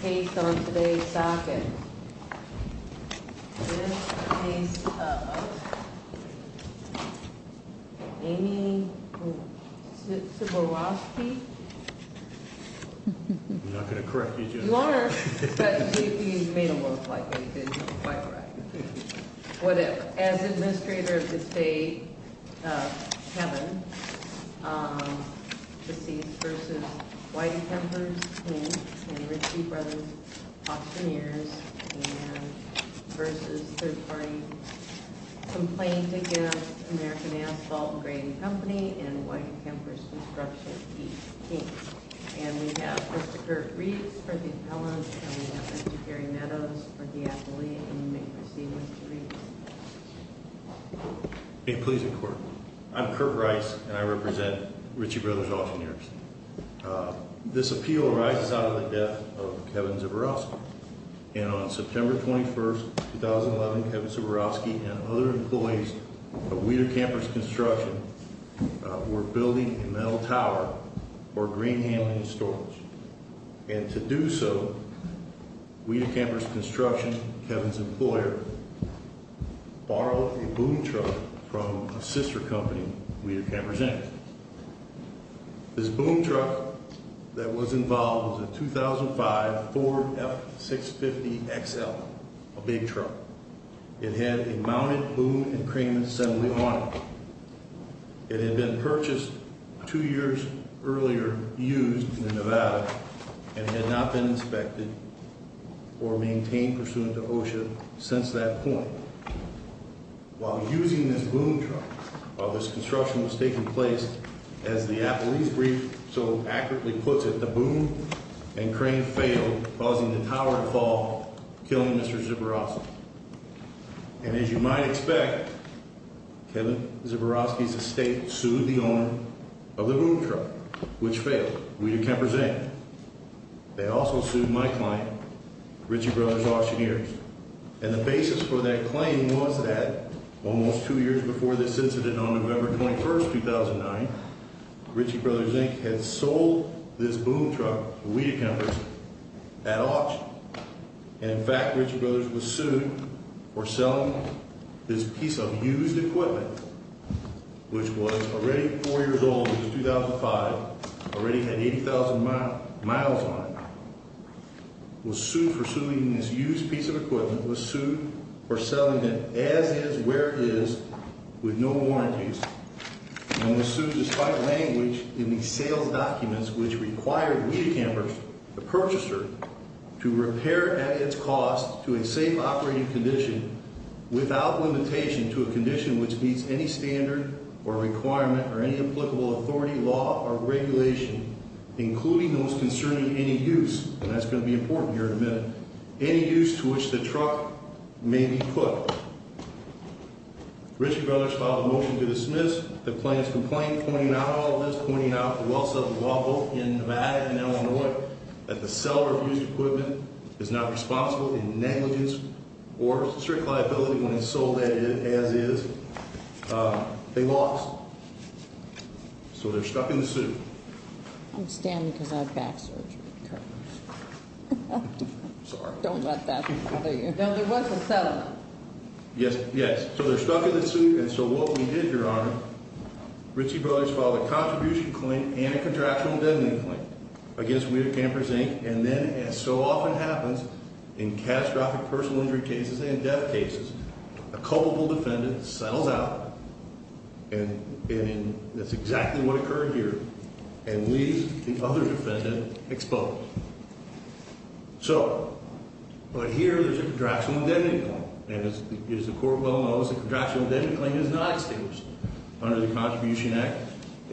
Case on today's docket, this case of Amy Ciborowski. I'm not going to correct you just yet. You are, but maybe you made it look like it. You did quite right. As Administrator of the State, Kevin, this is v. Wedekemper's, Inc. and the Ritchie Brothers auctioneers, and v. third party complaint against American Asphalt and Grain Company and Wedekemper's Construction, Inc. And we have Mr. Kurt Reeves for the appellant, and we have Mr. Gary Meadows for the appellee. And you may proceed, Mr. Reeves. May it please the Court. I'm Kurt Rice, and I represent Ritchie Brothers auctioneers. This appeal arises out of the death of Kevin Ciborowski. And on September 21, 2011, Kevin Ciborowski and other employees of Wedekemper's Construction were building a metal tower for a grain handling storage. And to do so, Wedekemper's Construction, Kevin's employer, borrowed a boom truck from a sister company, Wedekemper's, Inc. This boom truck that was involved was a 2005 Ford F650XL, a big truck. It had a mounted boom and crane assembly on it. It had been purchased two years earlier used in Nevada and had not been inspected or maintained pursuant to OSHA since that point. While using this boom truck, while this construction was taking place, as the appellee's brief so accurately puts it, the boom and crane failed, causing the tower to fall, killing Mr. Ciborowski. And as you might expect, Kevin Ciborowski's estate sued the owner of the boom truck, which failed, Wedekemper's, Inc. They also sued my client, Ritchie Brothers auctioneers. And the basis for that claim was that almost two years before this incident on November 21, 2009, Ritchie Brothers, Inc. had sold this boom truck, Wedekemper's, at auction. And in fact, Ritchie Brothers was sued for selling this piece of used equipment, which was already four years old, which was 2005, already had 80,000 miles on it. Was sued for suing this used piece of equipment, was sued for selling it as is, where it is, with no warranties. And was sued, despite language in the sales documents, which required Wedekemper's, the purchaser, to repair at its cost to a safe operating condition without limitation to a condition which meets any standard or requirement or any applicable authority, law, or regulation, including those concerning any use, and that's going to be important here in a minute, any use to which the truck may be put. Ritchie Brothers filed a motion to dismiss the client's complaint, pointing out all of this, pointing out the well-settled law, both in Nevada and Illinois, that the seller of used equipment is not responsible in negligence or strict liability when it's sold as is. They lost, so they're stuck in the suit. I'm standing because I have back surgery. I'm sorry. Don't let that bother you. No, there was a settlement. Yes, yes. So they're stuck in the suit, and so what we did, Your Honor, Ritchie Brothers filed a contribution claim and a contractual indemnity claim against Wedekemper's, Inc., and then, as so often happens in catastrophic personal injury cases and death cases, a culpable defendant settles out, and that's exactly what occurred here, and leaves the other defendant exposed. So, but here there's a contractual indemnity claim, and as the Court well knows, a contractual indemnity claim is not established under the Contribution Act,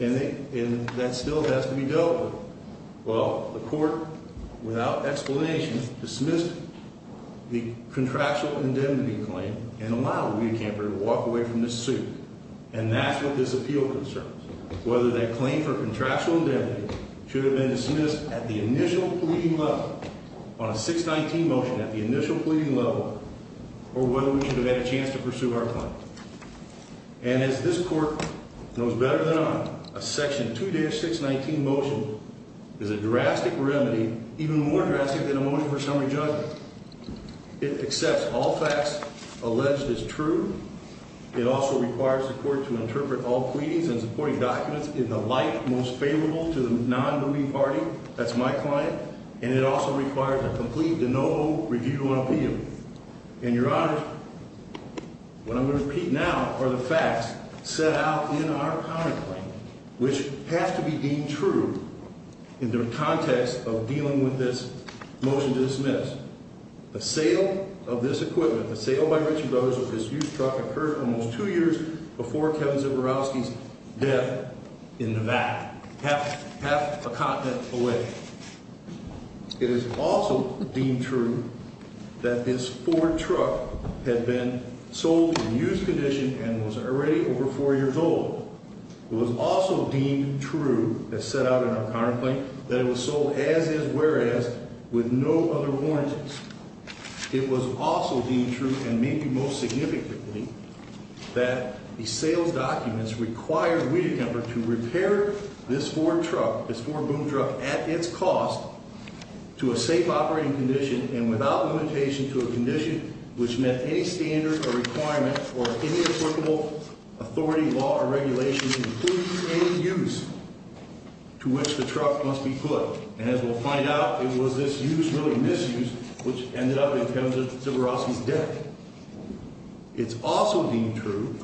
and that still has to be dealt with. Well, the Court, without explanation, dismissed the contractual indemnity claim and allowed Wedekemper to walk away from the suit, and that's what this appeal concerns, whether that claim for contractual indemnity should have been dismissed at the initial pleading level, on a 619 motion at the initial pleading level, or whether we should have had a chance to pursue our claim. And as this Court knows better than I, a section 2-619 motion is a drastic remedy, even more drastic than a motion for summary judgment. It accepts all facts alleged as true. It also requires the Court to interpret all pleadings and supporting documents in the light most favorable to the non-belief party, that's my client, and it also requires a complete and no review on appeal. And, Your Honor, what I'm going to repeat now are the facts set out in our contract, which have to be deemed true in the context of dealing with this motion to dismiss. The sale of this equipment, the sale by Ritchie Brothers of this used truck, occurred almost two years before Kevin Zborowski's death in Nevada, half a continent away. It is also deemed true that this Ford truck had been sold in used condition and was already over four years old. It was also deemed true, as set out in our contract claim, that it was sold as-is, whereas, with no other warranties. It was also deemed true, and maybe most significantly, that the sales documents required Weed and Temper to repair this Ford truck, this Ford boom truck, at its cost to a safe operating condition and without limitation to a condition which met any standard or requirement or any applicable authority, law, or regulation including any use to which the truck must be put. And, as we'll find out, it was this use, really misuse, which ended up in Kevin Zborowski's death. It's also deemed true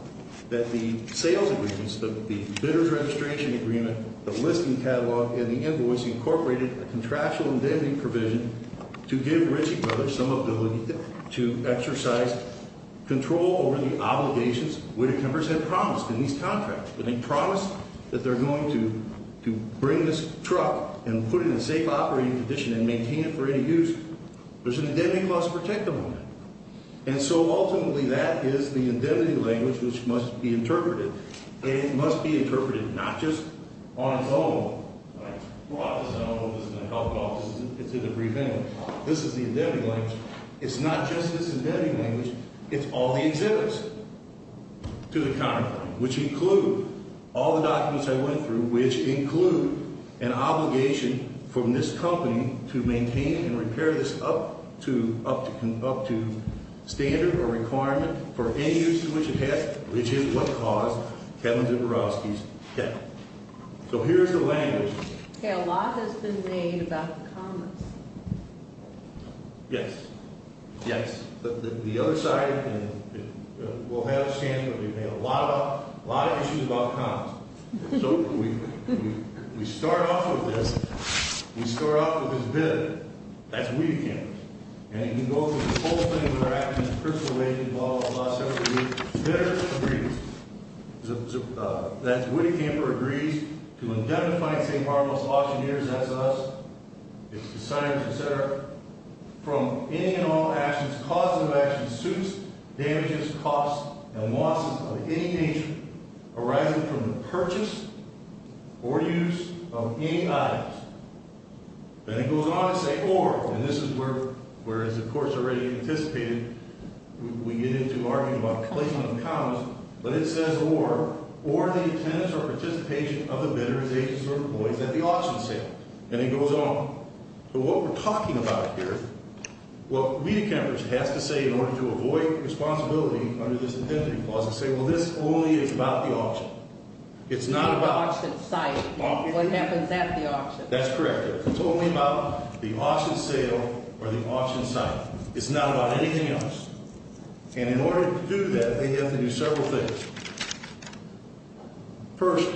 that the sales agreements, the bidder's registration agreement, the listing catalog, and the invoice incorporated a contractual indemnity provision to give Ritchie Brothers some ability to exercise control over the obligations Weed and Temper had promised in these contracts. When they promised that they're going to bring this truck and put it in a safe operating condition and maintain it for any use, there's an indemnity clause protected on it. And so, ultimately, that is the indemnity language which must be interpreted, and it must be interpreted not just on its own, like, Well, I don't know if this is going to help at all. This is a debriefing. This is the indemnity language. It's not just this indemnity language. It's all the exhibits to the contract, which include all the documents I went through, which include an obligation from this company to maintain and repair this up to standard or requirement for any use to which it has, which is what caused Kevin Zborowski's death. So here's the language. Okay. A lot has been made about the comments. Yes. Yes. The other side, and we'll have a stand, but we've had a lot of issues about the comments. So we start off with this. We start off with his bid. That's Weed and Temper. And you can go through the whole thing with our actions, personal involvement, a lot of stuff. That's Weed and Temper. Agrees to indemnify St. Marble's auctioneers, that's us, its designers, et cetera, from any and all actions, causes of actions, suits, damages, costs, and losses of any nature arising from the purchase or use of any items. Then it goes on to say, or, and this is where it's, of course, already anticipated. We get into arguing about placement of accounts. But it says, or, or the attendance or participation of the bidder's agents or employees at the auction sale. And it goes on. So what we're talking about here, well, Weed and Temper has to say, in order to avoid responsibility under this indemnity clause, to say, well, this only is about the auction. What happens at the auction. That's correct. It's only about the auction sale or the auction site. It's not about anything else. And in order to do that, they have to do several things. First,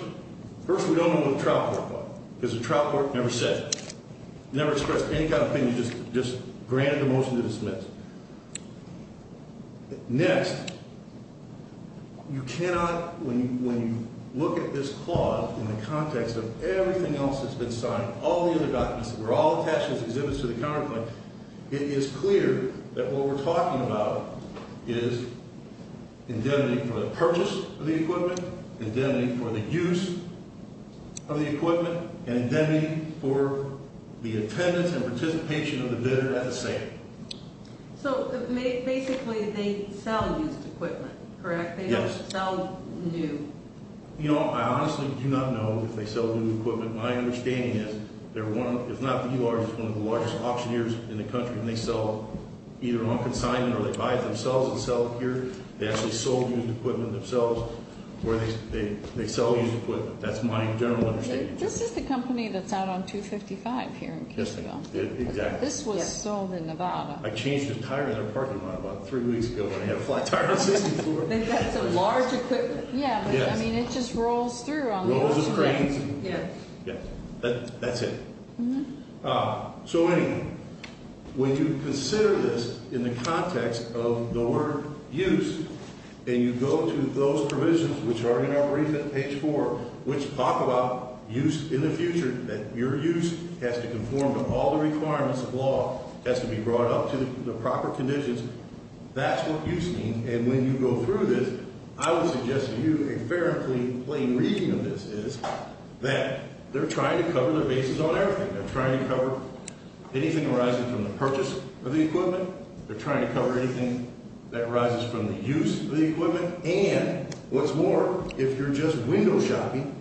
first we don't know what the trial court will. Because the trial court never said, never expressed any kind of opinion, just granted the motion to dismiss. Next, you cannot, when you, when you look at this clause in the context of everything else that's been signed, all the other documents that were all attached to this exhibit to the counterpoint, it is clear that what we're talking about is indemnity for the purchase of the equipment, indemnity for the use of the equipment, and indemnity for the attendance and participation of the bidder at the sale. So basically they sell used equipment, correct? Yes. They don't sell new. You know, I honestly do not know if they sell new equipment. My understanding is they're one, if not the URs, one of the largest auctioneers in the country. And they sell either on consignment or they buy it themselves and sell it here. They actually sold used equipment themselves where they sell used equipment. That's my general understanding. This is the company that's out on 255 here in Kingsville. Yes, exactly. This was sold in Nevada. I changed the tire in their parking lot about three weeks ago when I had a flat tire on 64. They've got some large equipment. Yes. Yeah, I mean it just rolls through on the roadway. Rolls and drains. Yeah. That's it. So anyway, when you consider this in the context of the word used, and you go to those provisions which are in our brief at page 4, which talk about use in the future, that your use has to conform to all the requirements of law, has to be brought up to the proper conditions, that's what used means. And when you go through this, I would suggest to you a fairly plain reading of this is that they're trying to cover their bases on everything. They're trying to cover anything arising from the purchase of the equipment. They're trying to cover anything that arises from the use of the equipment. And what's more, if you're just window shopping,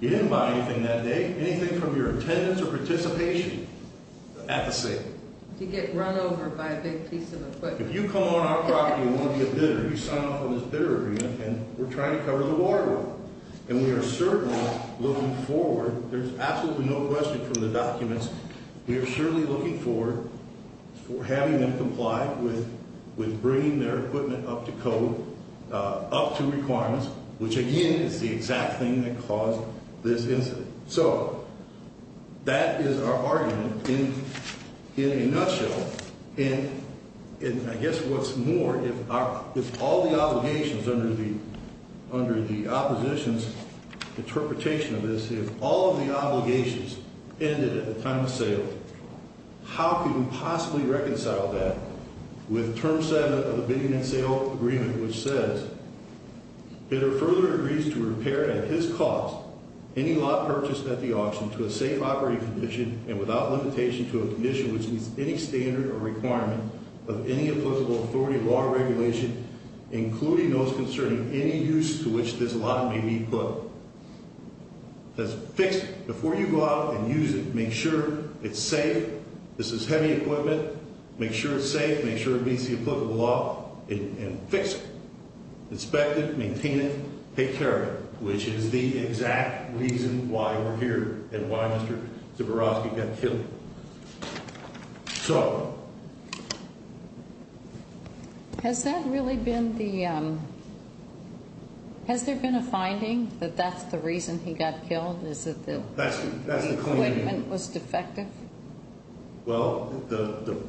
you didn't buy anything that day, anything from your attendance or participation at the sale. You get run over by a big piece of equipment. If you come on our property and want to be a bidder, you sign off on this bidder agreement, and we're trying to cover the boardroom. And we are certainly looking forward. There's absolutely no question from the documents. We are surely looking forward for having them comply with bringing their equipment up to code, up to requirements, which, again, is the exact thing that caused this incident. So that is our argument in a nutshell. And I guess what's more, if all the obligations under the opposition's interpretation of this, if all of the obligations ended at the time of sale, how could we possibly reconcile that with Term 7 of the bidding and sale agreement, which says, Bidder further agrees to repair at his cost any lot purchased at the auction to a safe operating condition and without limitation to a condition which meets any standard or requirement of any applicable authority law or regulation, including those concerning any use to which this lot may be put. That's fixed. Before you go out and use it, make sure it's safe. This is heavy equipment. Make sure it's safe. Make sure it meets the applicable law and fix it. Inspect it. Maintain it. Take care of it, which is the exact reason why we're here and why Mr. Zborowski got killed. So... Has that really been the... Has there been a finding that that's the reason he got killed, is that the equipment was defective? Well, to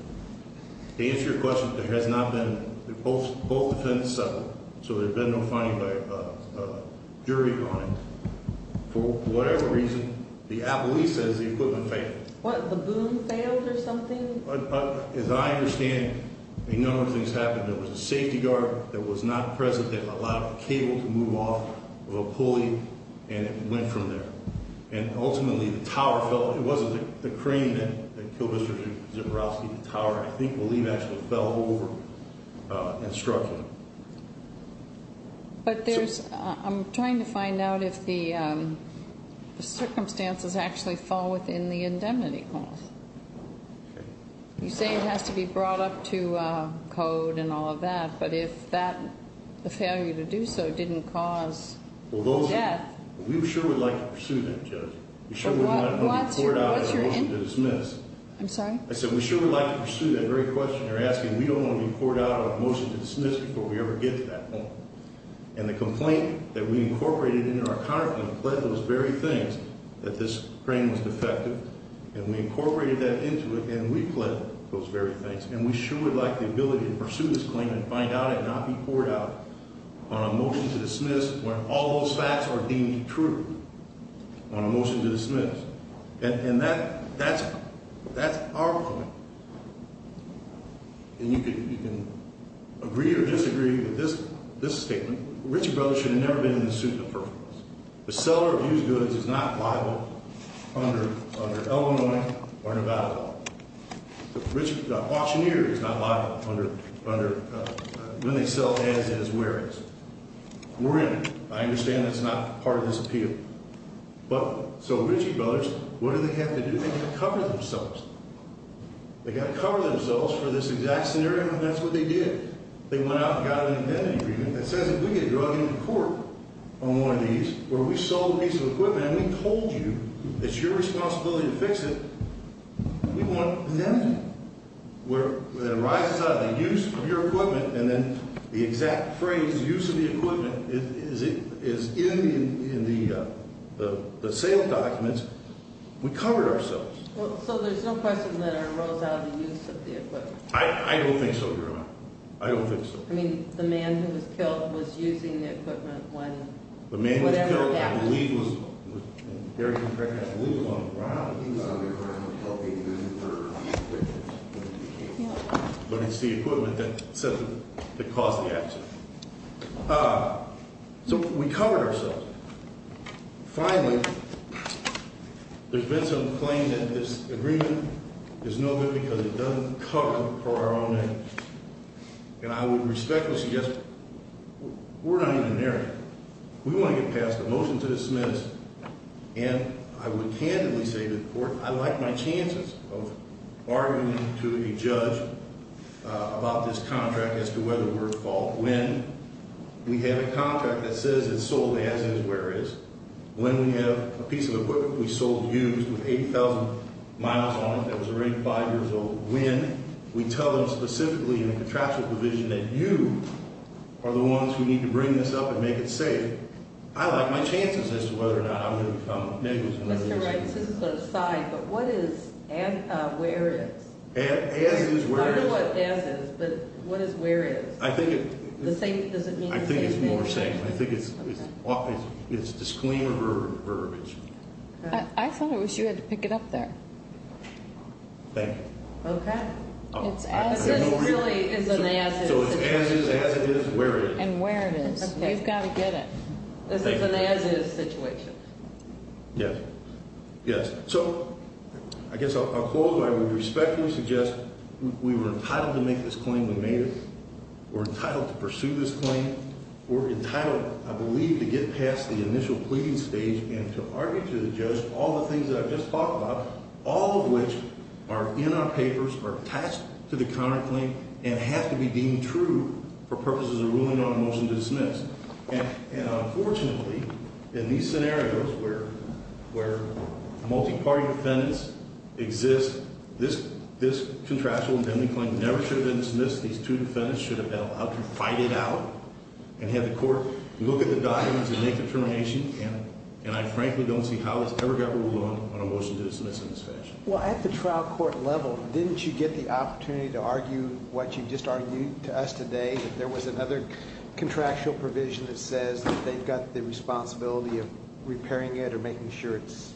answer your question, there has not been... Both defendants settled, so there's been no finding by a jury on it. For whatever reason, the appellee says the equipment failed. What, the boom failed or something? As I understand it, a number of things happened. There was a safety guard that was not present that allowed the cable to move off of a pulley, and it went from there. And ultimately, the tower fell. It wasn't the crane that killed Mr. Zborowski. The tower, I think, believe actually fell over and struck him. But there's... I'm trying to find out if the circumstances actually fall within the indemnity clause. Okay. You say it has to be brought up to code and all of that, but if that, the failure to do so didn't cause death... Well, those are... We sure would like to pursue that, Judge. We sure would not want to be poured out on a motion to dismiss. I'm sorry? I said we sure would like to pursue that very question you're asking. We don't want to be poured out on a motion to dismiss before we ever get to that point. And the complaint that we incorporated into our counterclaim pledged those very things that this crane was defective. And we incorporated that into it, and we pledged those very things. And we sure would like the ability to pursue this claim and find out and not be poured out on a motion to dismiss when all those facts are deemed true on a motion to dismiss. And that's our point. And you can agree or disagree with this statement. The Ritchey brothers should have never been in the suit of the first place. The seller of used goods is not liable under Illinois or Nevada law. The auctioneer is not liable under when they sell as is whereas. We're in it. I understand that's not part of this appeal. But so Ritchey brothers, what do they have to do? They've got to cover themselves. They've got to cover themselves for this exact scenario, and that's what they did. They went out and got an identity agreement that says if we get drugged into court on one of these where we sold a piece of equipment and we told you it's your responsibility to fix it, we want an identity. Where it arises out of the use of your equipment and then the exact phrase use of the equipment is in the sale documents, we covered ourselves. So there's no question that it arose out of the use of the equipment. I don't think so, Your Honor. I don't think so. I mean, the man who was killed was using the equipment when whatever happened. I believe it was on the ground. But it's the equipment that caused the accident. So we covered ourselves. Finally, there's been some claim that this agreement is no good because it doesn't cover our own name. And I would respectfully suggest we're not even there yet. We want to get passed a motion to dismiss. And I would candidly say to the court I like my chances of arguing to a judge about this contract as to whether we're at fault when we have a contract that says it's sold as is, where is. When we have a piece of equipment we sold used with 8,000 miles on it that was already five years old. When we tell them specifically in the contractual division that you are the ones who need to bring this up and make it safe. I like my chances as to whether or not I'm going to be found negligent. Mr. Wright, this is sort of side, but what is as, where is. As is, where is. I don't know what as is, but what is where is. Does it mean the same thing? I think it's more same. I think it's often it's disclaimer verbiage. I thought it was you had to pick it up there. Thank you. Okay. It's as is. So it's as is, as it is, where it is. And where it is. Okay. You've got to get it. This is an as is situation. Yes. Yes. So I guess I'll close by I would respectfully suggest we were entitled to make this claim when we made it. We're entitled to pursue this claim. We're entitled, I believe, to get past the initial pleading stage and to argue to the judge all the things that I've just talked about, all of which are in our papers, are attached to the counterclaim, and have to be deemed true for purposes of ruling on a motion to dismiss. And unfortunately, in these scenarios where multi-party defendants exist, this contractual indemnity claim never should have been dismissed. These two defendants should have been allowed to fight it out and have the court look at the documents and make a determination. And I frankly don't see how this ever got ruled on on a motion to dismiss in this fashion. Well, at the trial court level, didn't you get the opportunity to argue what you just argued to us today, that there was another contractual provision that says that they've got the responsibility of repairing it or making sure it's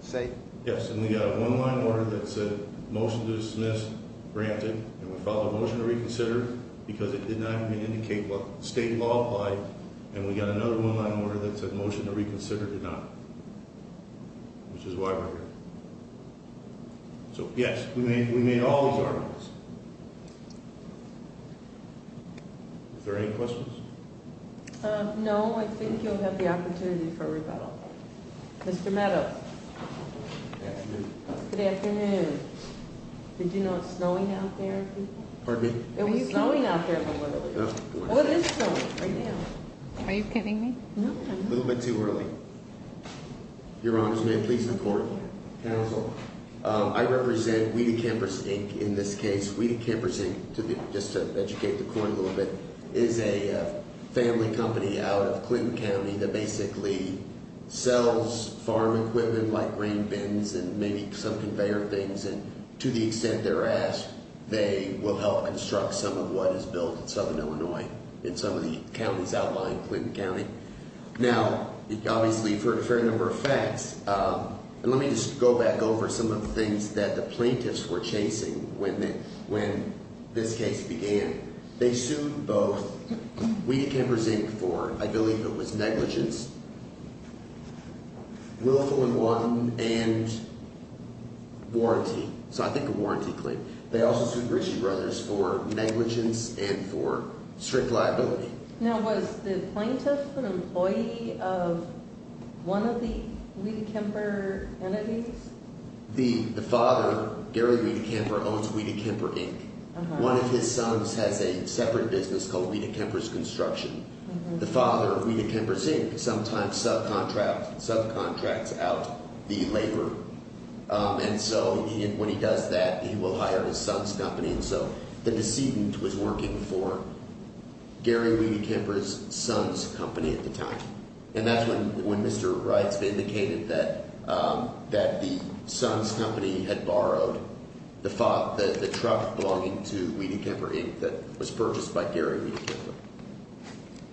safe? Yes. And we got a one-line order that said, motion to dismiss granted. And we filed a motion to reconsider because it did not even indicate what state law applied. And we got another one-line order that said, motion to reconsider did not, which is why we're here. So, yes, we made all these arguments. Is there any questions? No, I think you'll have the opportunity for rebuttal. Mr. Meadows. Good afternoon. Good afternoon. Did you know it's snowing out there? Pardon me? It was snowing out there a little earlier. Well, it is snowing right now. Are you kidding me? No, I'm not. A little bit too early. Your Honors, may I please the court? Counsel. I represent Weed Campers Inc. in this case. Weed Campers Inc., just to educate the court a little bit, is a family company out of Clinton County that basically sells farm equipment like grain bins and maybe some conveyor things. And to the extent they're asked, they will help construct some of what is built in southern Illinois in some of the counties outlying Clinton County. Now, obviously you've heard a fair number of facts. And let me just go back over some of the things that the plaintiffs were chasing when this case began. They sued both Weed Campers Inc. for, I believe it was negligence, willful and wanton, and warranty. So I think a warranty claim. They also sued Ritchie Brothers for negligence and for strict liability. Now, was the plaintiff an employee of one of the Weed Camper entities? The father, Gary Weed Camper, owns Weed Camper Inc. One of his sons has a separate business called Weed Campers Construction. The father of Weed Camper Inc. sometimes subcontracts out the labor. And so when he does that, he will hire his son's company. And so the decedent was working for Gary Weed Camper's son's company at the time. And that's when Mr. Wright indicated that the son's company had borrowed the truck belonging to Weed Camper Inc. that was purchased by Gary Weed Camper.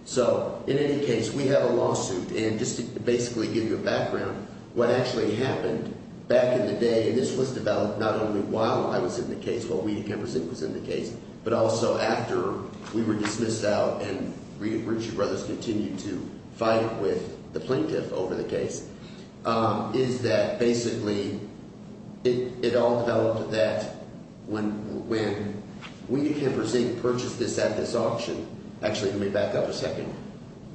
So in any case, we have a lawsuit. And just to basically give you a background, what actually happened back in the day, and this was developed not only while I was in the case, while Weed Camper Inc. was in the case, but also after we were dismissed out and Ritchie Brothers continued to fight with the plaintiff over the case, is that basically it all developed that when Weed Camper Inc. purchased this at this auction, actually let me back up a second,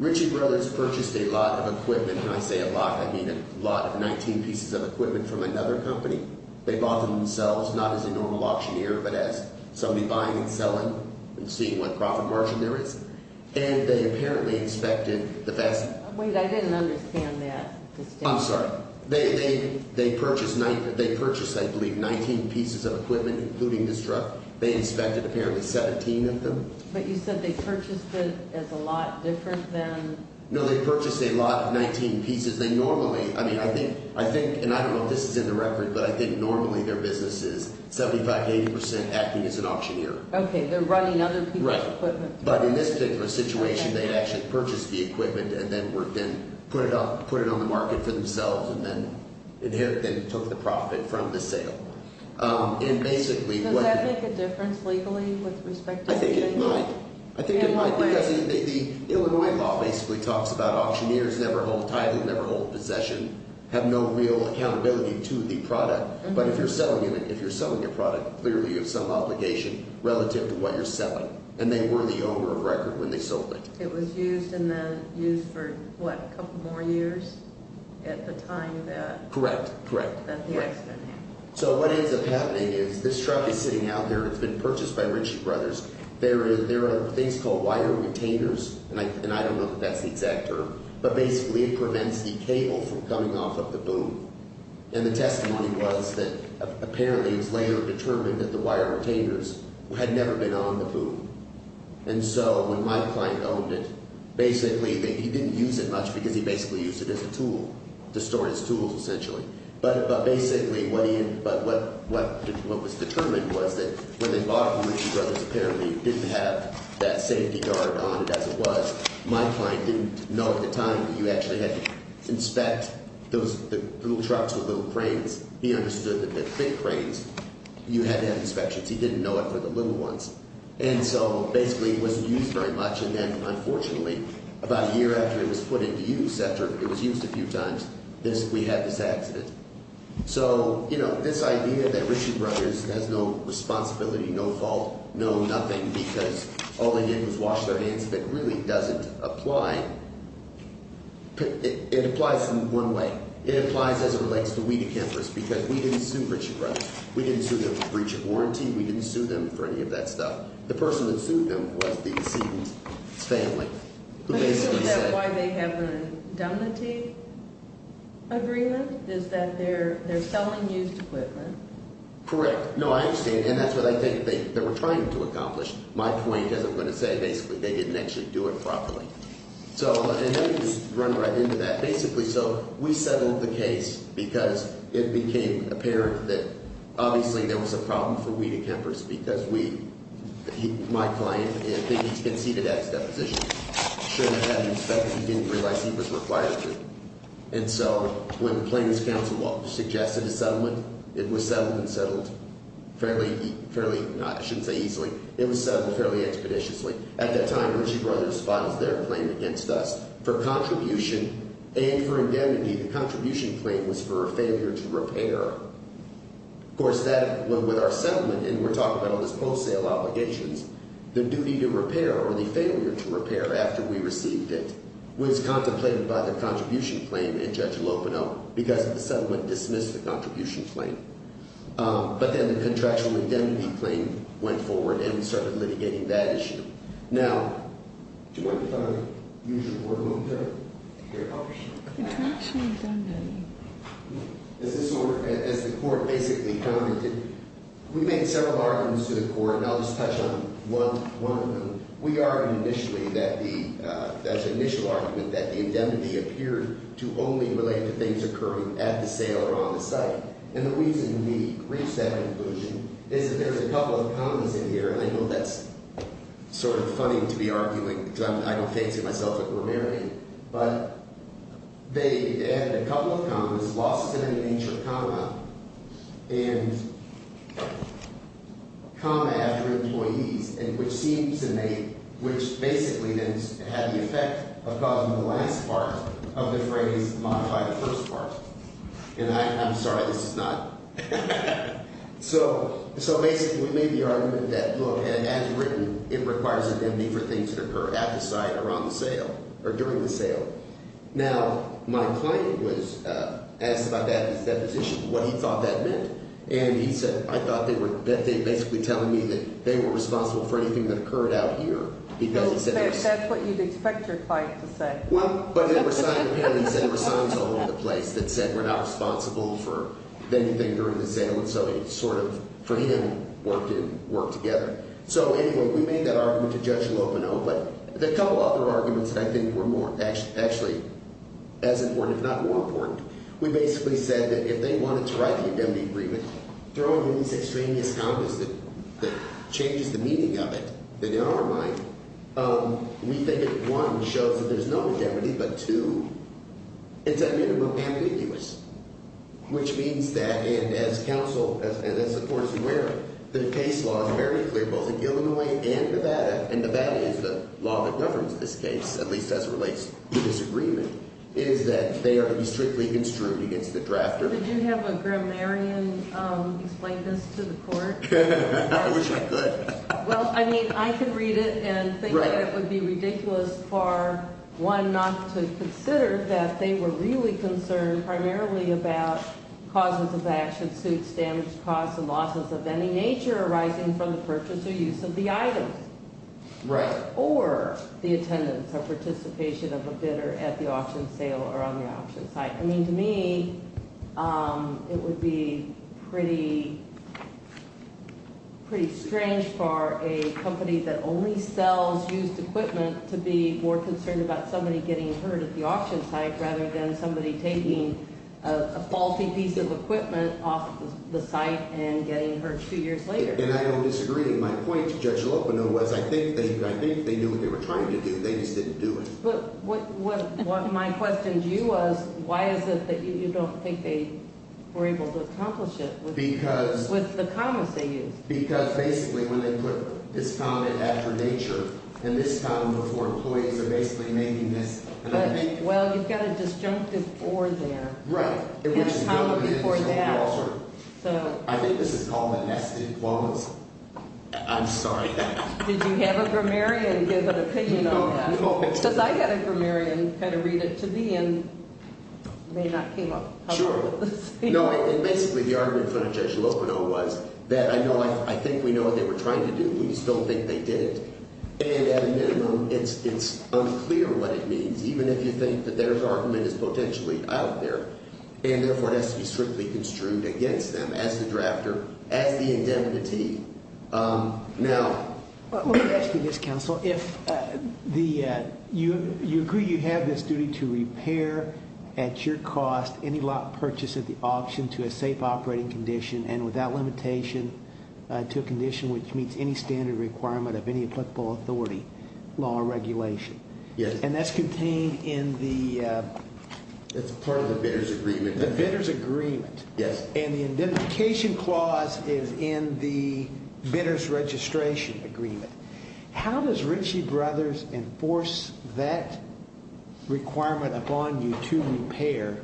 Ritchie Brothers purchased a lot of equipment, and when I say a lot, I mean a lot of 19 pieces of equipment from another company. They bought them themselves, not as a normal auctioneer, but as somebody buying and selling and seeing what profit margin there is. And they apparently inspected the – Wait, I didn't understand that. I'm sorry. They purchased, I believe, 19 pieces of equipment, including this truck. They inspected apparently 17 of them. But you said they purchased it as a lot different than – No, they purchased a lot of 19 pieces. They normally – I mean, I think – and I don't know if this is in the record, but I think normally their business is 75 to 80 percent acting as an auctioneer. Okay. They're running other people's equipment. Right. But in this particular situation, they actually purchased the equipment and then put it on the market for themselves and then took the profit from the sale. And basically what – Does that make a difference legally with respect to – I think it might. I think it might because the Illinois law basically talks about auctioneers never hold title, never hold possession, have no real accountability to the product. But if you're selling it, if you're selling a product, clearly you have some obligation relative to what you're selling. And they were the owner of record when they sold it. It was used and then used for, what, a couple more years at the time that – Correct, correct, correct. That the accident happened. So what ends up happening is this truck is sitting out there and it's been purchased by Ritchie Brothers. There are things called wire retainers, and I don't know if that's the exact term, but basically it prevents the cable from coming off of the boom. And the testimony was that apparently it was later determined that the wire retainers had never been on the boom. And so when my client owned it, basically he didn't use it much because he basically used it as a tool to store his tools essentially. But basically what he – but what was determined was that when they bought it from Ritchie Brothers, apparently it didn't have that safety guard on it as it was. My client didn't know at the time that you actually had to inspect those little trucks with little cranes. He understood that the big cranes, you had to have inspections. He didn't know it for the little ones. And so basically it wasn't used very much, and then unfortunately about a year after it was put into use, after it was used a few times, we had this accident. So this idea that Ritchie Brothers has no responsibility, no fault, no nothing because all they did was wash their hands of it really doesn't apply. It applies in one way. It applies as it relates to we decampers because we didn't sue Ritchie Brothers. We didn't sue them for breach of warranty. We didn't sue them for any of that stuff. The person that sued them was the Sedan's family who basically said – But isn't that why they have an indemnity agreement is that they're selling used equipment? Correct. No, I understand, and that's what I think they were trying to accomplish. My point is I'm going to say basically they didn't actually do it properly. So – and let me just run right into that. Because it became apparent that obviously there was a problem for we decampers because we – my client, I think he's been seated at his deposition. He shouldn't have had an inspector. He didn't realize he was required to. And so when the Plains Council suggested a settlement, it was settled and settled fairly – I shouldn't say easily. It was settled fairly expeditiously. At that time, Ritchie Brothers filed their claim against us for contribution and for indemnity. The contribution claim was for a failure to repair. Of course, that went with our settlement, and we're talking about all this post-sale obligations. The duty to repair or the failure to repair after we received it was contemplated by the contribution claim in Judge Lopino because the settlement dismissed the contribution claim. But then the contractual indemnity claim went forward, and we started litigating that issue. Now, do you mind if I use your word a moment there? Here. Contractual indemnity. As this – as the court basically commented, we made several arguments to the court, and I'll just touch on one of them. We argued initially that the – that initial argument that the indemnity appeared to only relate to things occurring at the sale or on the site. And the reason we reached that conclusion is that there's a couple of commas in here, and I know that's sort of funny to be arguing. I don't fancy myself a grammarian. But they added a couple of commas, loss-of-any-nature comma, and comma after employees, which seems to make – which basically then had the effect of causing the last part of the phrase modify the first part. And I'm sorry. This is not – so basically we made the argument that, look, as written, it requires indemnity for things that occur at the site or on the sale or during the sale. Now, my client was asked about that in his deposition, what he thought that meant, and he said, I thought they were – that they were basically telling me that they were responsible for anything that occurred out here because it's at their site. That's what you'd expect your client to say. Well, but there were signs – apparently there were signs all over the place that said we're not responsible for anything during the sale, and so it sort of, for him, worked in – worked together. So anyway, we made that argument to Judge Lopino, but the couple other arguments that I think were more – actually as important, if not more important, we basically said that if they wanted to write the indemnity agreement, throw in this extraneous compass that changes the meaning of it, then in our mind, we think it, one, shows that there's no indemnity, but two, it's at minimum ambiguous, which means that – and as counsel – and as the court is aware, the case law is very clear both in Illinois and Nevada, and Nevada is the law that governs this case, at least as it relates to disagreement, is that they are to be strictly construed against the drafter. Did you have a grammarian explain this to the court? I wish I could. Well, I mean, I could read it and think that it would be ridiculous for, one, not to consider that they were really concerned primarily about causes of action, suits, damage, costs, and losses of any nature arising from the purchase or use of the item. Right. Or the attendance or participation of a bidder at the auction sale or on the auction site. I mean, to me, it would be pretty strange for a company that only sells used equipment to be more concerned about somebody getting hurt at the auction site rather than somebody taking a faulty piece of equipment off the site and getting hurt two years later. And I don't disagree. My point to Judge Lopino was I think they knew what they were trying to do. They just didn't do it. But what my question to you was, why is it that you don't think they were able to accomplish it with the comments they used? Because basically when they put this comment after nature and this comment before employees, they're basically making this – But, well, you've got a disjunctive or there. Right. And a comment before that. I think this is called a nested clause. I'm sorry. Did you have a grammarian give an opinion on that? Because I had a grammarian kind of read it to me and may not have come up with the same. No, and basically the argument from Judge Lopino was that I think we know what they were trying to do. We just don't think they did it. And at a minimum, it's unclear what it means, even if you think that their argument is potentially out there. And therefore, it has to be strictly construed against them as the drafter, as the indemnity. Now – Let me ask you this, counsel. You agree you have this duty to repair at your cost any lot purchased at the auction to a safe operating condition and without limitation to a condition which meets any standard requirement of any applicable authority, law, or regulation. Yes. And that's contained in the – It's part of the bidder's agreement. The bidder's agreement. Yes. And the indemnification clause is in the bidder's registration agreement. How does Ritchie Brothers enforce that requirement upon you to repair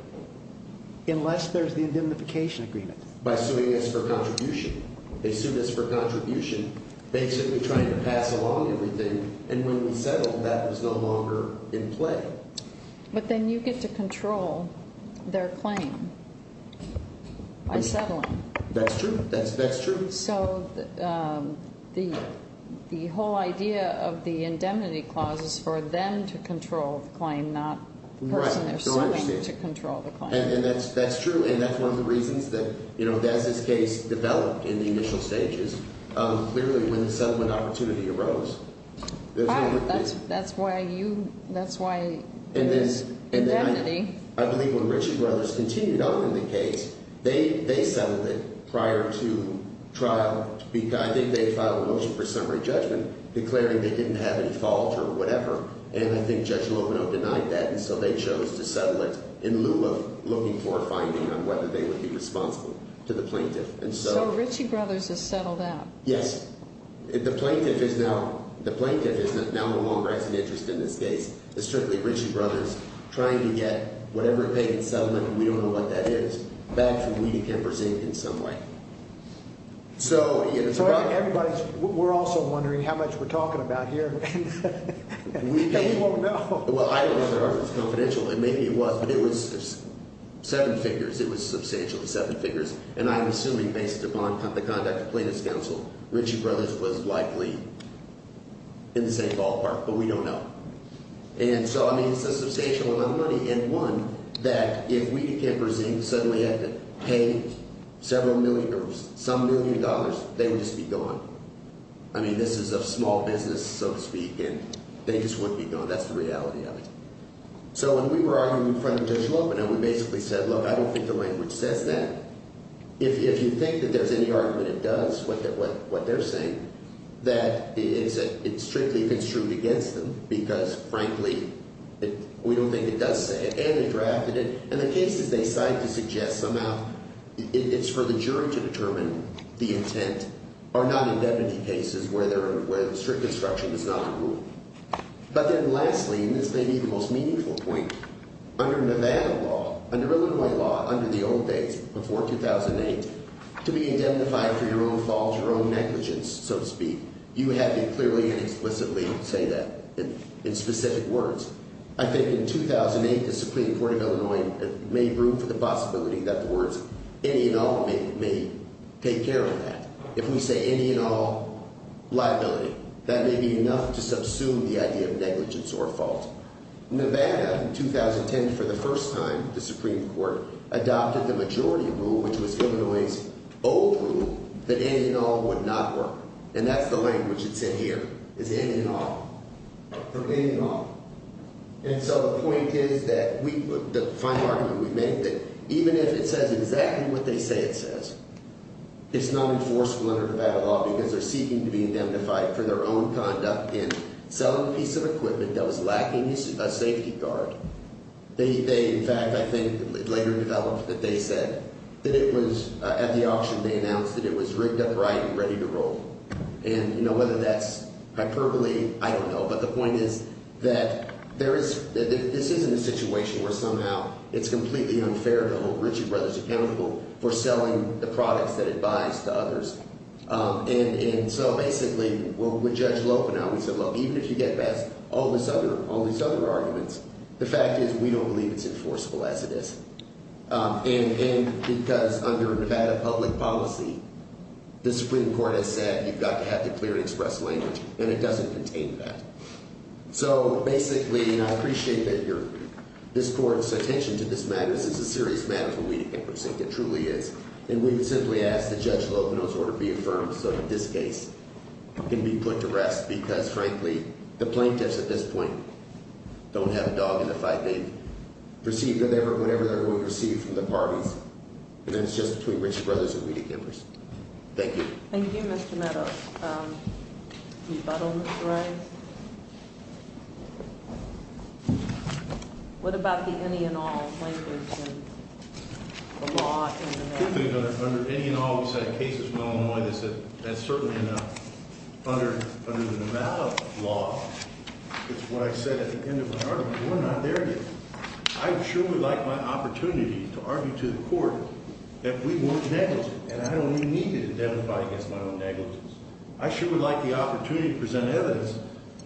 unless there's the indemnification agreement? By suing us for contribution. They sued us for contribution basically trying to pass along everything. And when we settled, that was no longer in play. But then you get to control their claim by settling. That's true. That's true. So the whole idea of the indemnity clause is for them to control the claim, not the person they're suing to control the claim. And that's true. And that's one of the reasons that, you know, as this case developed in the initial stages, clearly when the settlement opportunity arose – Right. That's why you – that's why indemnity – I think they filed a motion for summary judgment declaring they didn't have any fault or whatever, and I think Judge Lovino denied that, and so they chose to settle it in lieu of looking for a finding on whether they would be responsible to the plaintiff. And so – So Ritchie Brothers has settled out. Yes. The plaintiff is now – the plaintiff is now no longer has an interest in this case. It's strictly Ritchie Brothers trying to get whatever payment settlement – we don't know what that is – back to Weedy Kemper Zinc in some way. So, you know, it's about – Everybody's – we're also wondering how much we're talking about here, and we won't know. Well, I don't know if it's confidential, and maybe it was, but it was seven figures. It was substantially seven figures, and I'm assuming based upon the conduct of plaintiff's counsel, Ritchie Brothers was likely in the same ballpark, but we don't know. And so, I mean, it's a substantial amount of money, and one, that if Weedy Kemper Zinc suddenly had to pay several million or some million dollars, they would just be gone. I mean, this is a small business, so to speak, and they just wouldn't be gone. That's the reality of it. So when we were arguing in front of Judge Lovino, we basically said, look, I don't think the language says that. If you think that there's any argument it does, what they're saying, that it's strictly construed against them because, frankly, we don't think it does say it, and they drafted it. And the cases they cite to suggest somehow it's for the jury to determine the intent are not indefinite cases where strict construction is not a rule. But then lastly, and this may be the most meaningful point, under Nevada law, under Illinois law, under the old days, before 2008, to be indemnified for your own faults, your own negligence, so to speak, you had to clearly and explicitly say that in specific words. I think in 2008, the Supreme Court of Illinois made room for the possibility that the words any and all may take care of that. If we say any and all liability, that may be enough to subsume the idea of negligence or fault. Nevada, in 2010, for the first time, the Supreme Court adopted the majority rule, which was Illinois's old rule, that any and all would not work. And that's the language that's in here, is any and all. They're any and all. And so the point is that we – the final argument we make, that even if it says exactly what they say it says, it's not enforceable under Nevada law because they're seeking to be indemnified for their own conduct in selling a piece of equipment that was lacking a safety guard. They, in fact, I think later developed that they said that it was – at the auction they announced that it was rigged up right and ready to roll. And whether that's hyperbole, I don't know. But the point is that there is – this isn't a situation where somehow it's completely unfair to hold Ritchie Brothers Accountable for selling the products that it buys to others. And so basically, with Judge Lopa now, we said, look, even if you get past all this other – all these other arguments, the fact is we don't believe it's enforceable as it is. And because under Nevada public policy, the Supreme Court has said you've got to have the clear and express language, and it doesn't contain that. So basically – and I appreciate that you're – this court's attention to this matter is a serious matter for we to get, which I think it truly is. And we would simply ask that Judge Lopa's order be affirmed so that this case can be put to rest because, frankly, the plaintiffs at this point don't have a dog in the fight. They've received whatever – whatever they're going to receive from the parties. And it's just between Ritchie Brothers and Weedekippers. Thank you. Thank you, Mr. Meadows. Rebuttal, Mr. Rice? What about the any and all language in the law in Nevada? I think that under any and all, we've had cases in Illinois that said that's certainly enough. Under the Nevada law, it's what I said at the end of my argument. We're not there yet. I sure would like my opportunity to argue to the court that we weren't negligent, and I don't even need to identify against my own negligence. I sure would like the opportunity to present evidence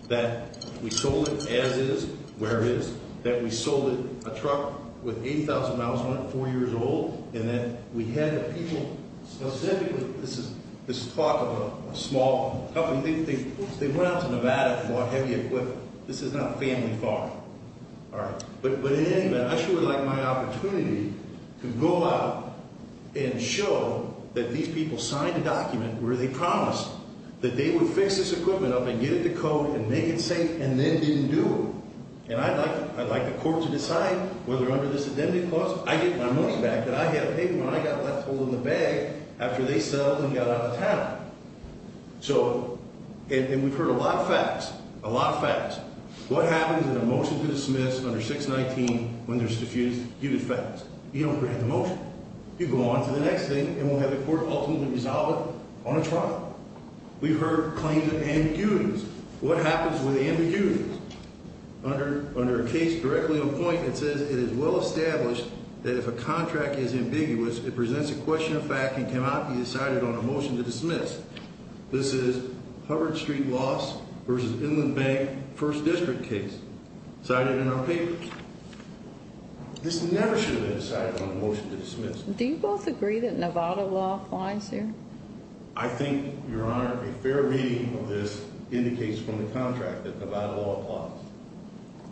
that we sold it as is, where it is, that we sold it, a truck with 8,000 miles on it, four years old, and that we had the people specifically – this is talk of a small company. They went out to Nevada and bought heavy equipment. This is not a family farm. But in any event, I sure would like my opportunity to go out and show that these people signed a document where they promised that they would fix this equipment up and get it to code and make it safe and then didn't do it. And I'd like the court to decide whether under this identity clause I get my money back that I had paid when I got left holding the bag after they settled and got out of town. So – and we've heard a lot of facts, a lot of facts. What happens in a motion to dismiss under 619 when there's diffused due to facts? You don't grant the motion. You go on to the next thing, and we'll have the court ultimately resolve it on a trial. We've heard claims of ambiguities. What happens with ambiguities? Under a case directly on point, it says it is well established that if a contract is ambiguous, it presents a question of fact and cannot be decided on a motion to dismiss. This is Hubbard Street loss versus Inland Bank First District case cited in our paper. This never should have been decided on a motion to dismiss. Do you both agree that Nevada law applies here? I think, Your Honor, a fair reading of this indicates from the contract that Nevada law applies.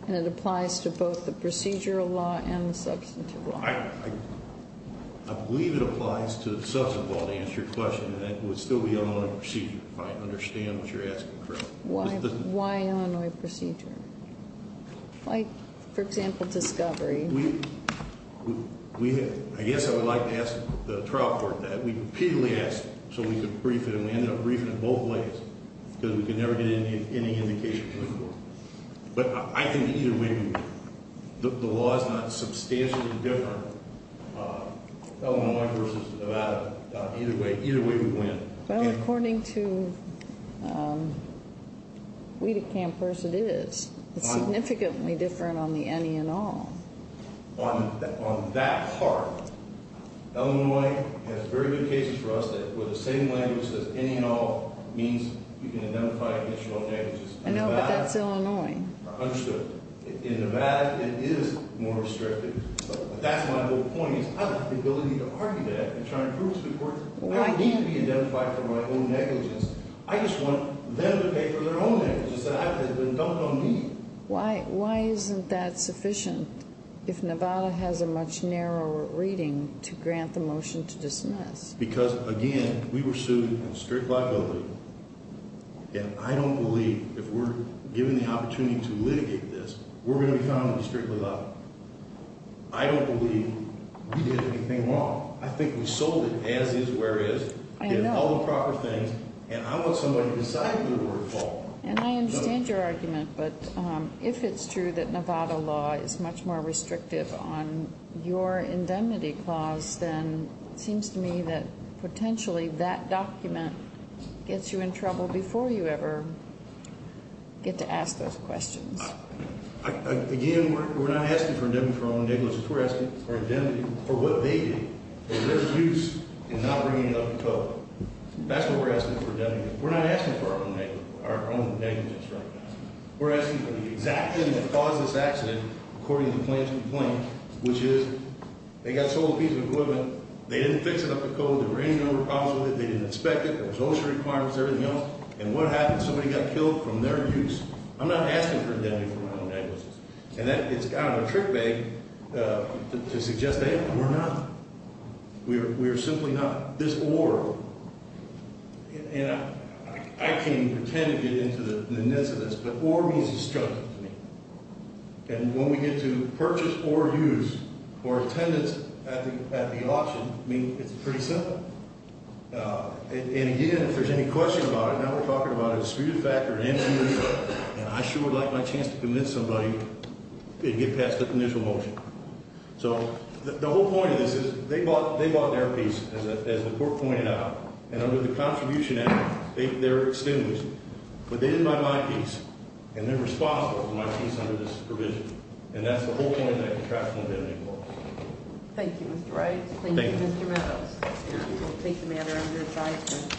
And it applies to both the procedural law and the substantive law. I believe it applies to the substantive law, to answer your question, and it would still be Illinois procedure if I understand what you're asking correctly. Why Illinois procedure? Like, for example, discovery. We – I guess I would like to ask the trial court that. We repeatedly asked so we could brief it, and we ended up briefing it both ways because we could never get any indication from the court. But I think either way, the law is not substantially different. Illinois versus Nevada. Either way, either way would win. Well, according to Wiedecampers, it is. It's significantly different on the any and all. On that part, Illinois has very good cases for us where the same language as any and all means you can identify additional negatives. I know, but that's Illinois. I understood. In Nevada, it is more restrictive. That's my whole point is I don't have the ability to argue that and try to prove it to the court. I don't need to be identified for my own negligence. I just want them to pay for their own negligence that has been dumped on me. Why isn't that sufficient if Nevada has a much narrower reading to grant the motion to dismiss? Because, again, we were sued in strict liability. And I don't believe if we're given the opportunity to litigate this, we're going to be found in strict liability. I don't believe we did anything wrong. I think we sold it as is, where is, did all the proper things. And I want somebody to decide whether we're at fault. And I understand your argument, but if it's true that Nevada law is much more restrictive on your indemnity clause, then it seems to me that potentially that document gets you in trouble before you ever get to ask those questions. Again, we're not asking for indemnity for our own negligence. We're asking for indemnity for what they did, for their use in not bringing it up to court. That's what we're asking for indemnity. We're not asking for our own negligence right now. We're asking for the exact thing that caused this accident, according to the plaintiff's complaint, which is they got sold a piece of equipment, they didn't fix it up to code, there were any other problems with it, they didn't inspect it, there was OSHA requirements, everything else. And what happened? Somebody got killed from their abuse. I'm not asking for indemnity for my own negligence. And it's kind of a trick bag to suggest that we're not. We are simply not. Now, this or, and I can't even pretend to get into the nits of this, but or means destructive to me. And when we get to purchase or use or attendance at the auction, I mean, it's pretty simple. And, again, if there's any question about it, now we're talking about a disputed factor, and I sure would like my chance to convince somebody to get past the initial motion. So the whole point of this is they bought their piece, as the court pointed out. And under the contribution act, they're excused. But they didn't buy my piece. And they're responsible for my piece under this provision. And that's the whole point of that contractual indemnity clause. Thank you, Mr. Wright. Thank you, Mr. Meadows. We'll take the matter under advisement.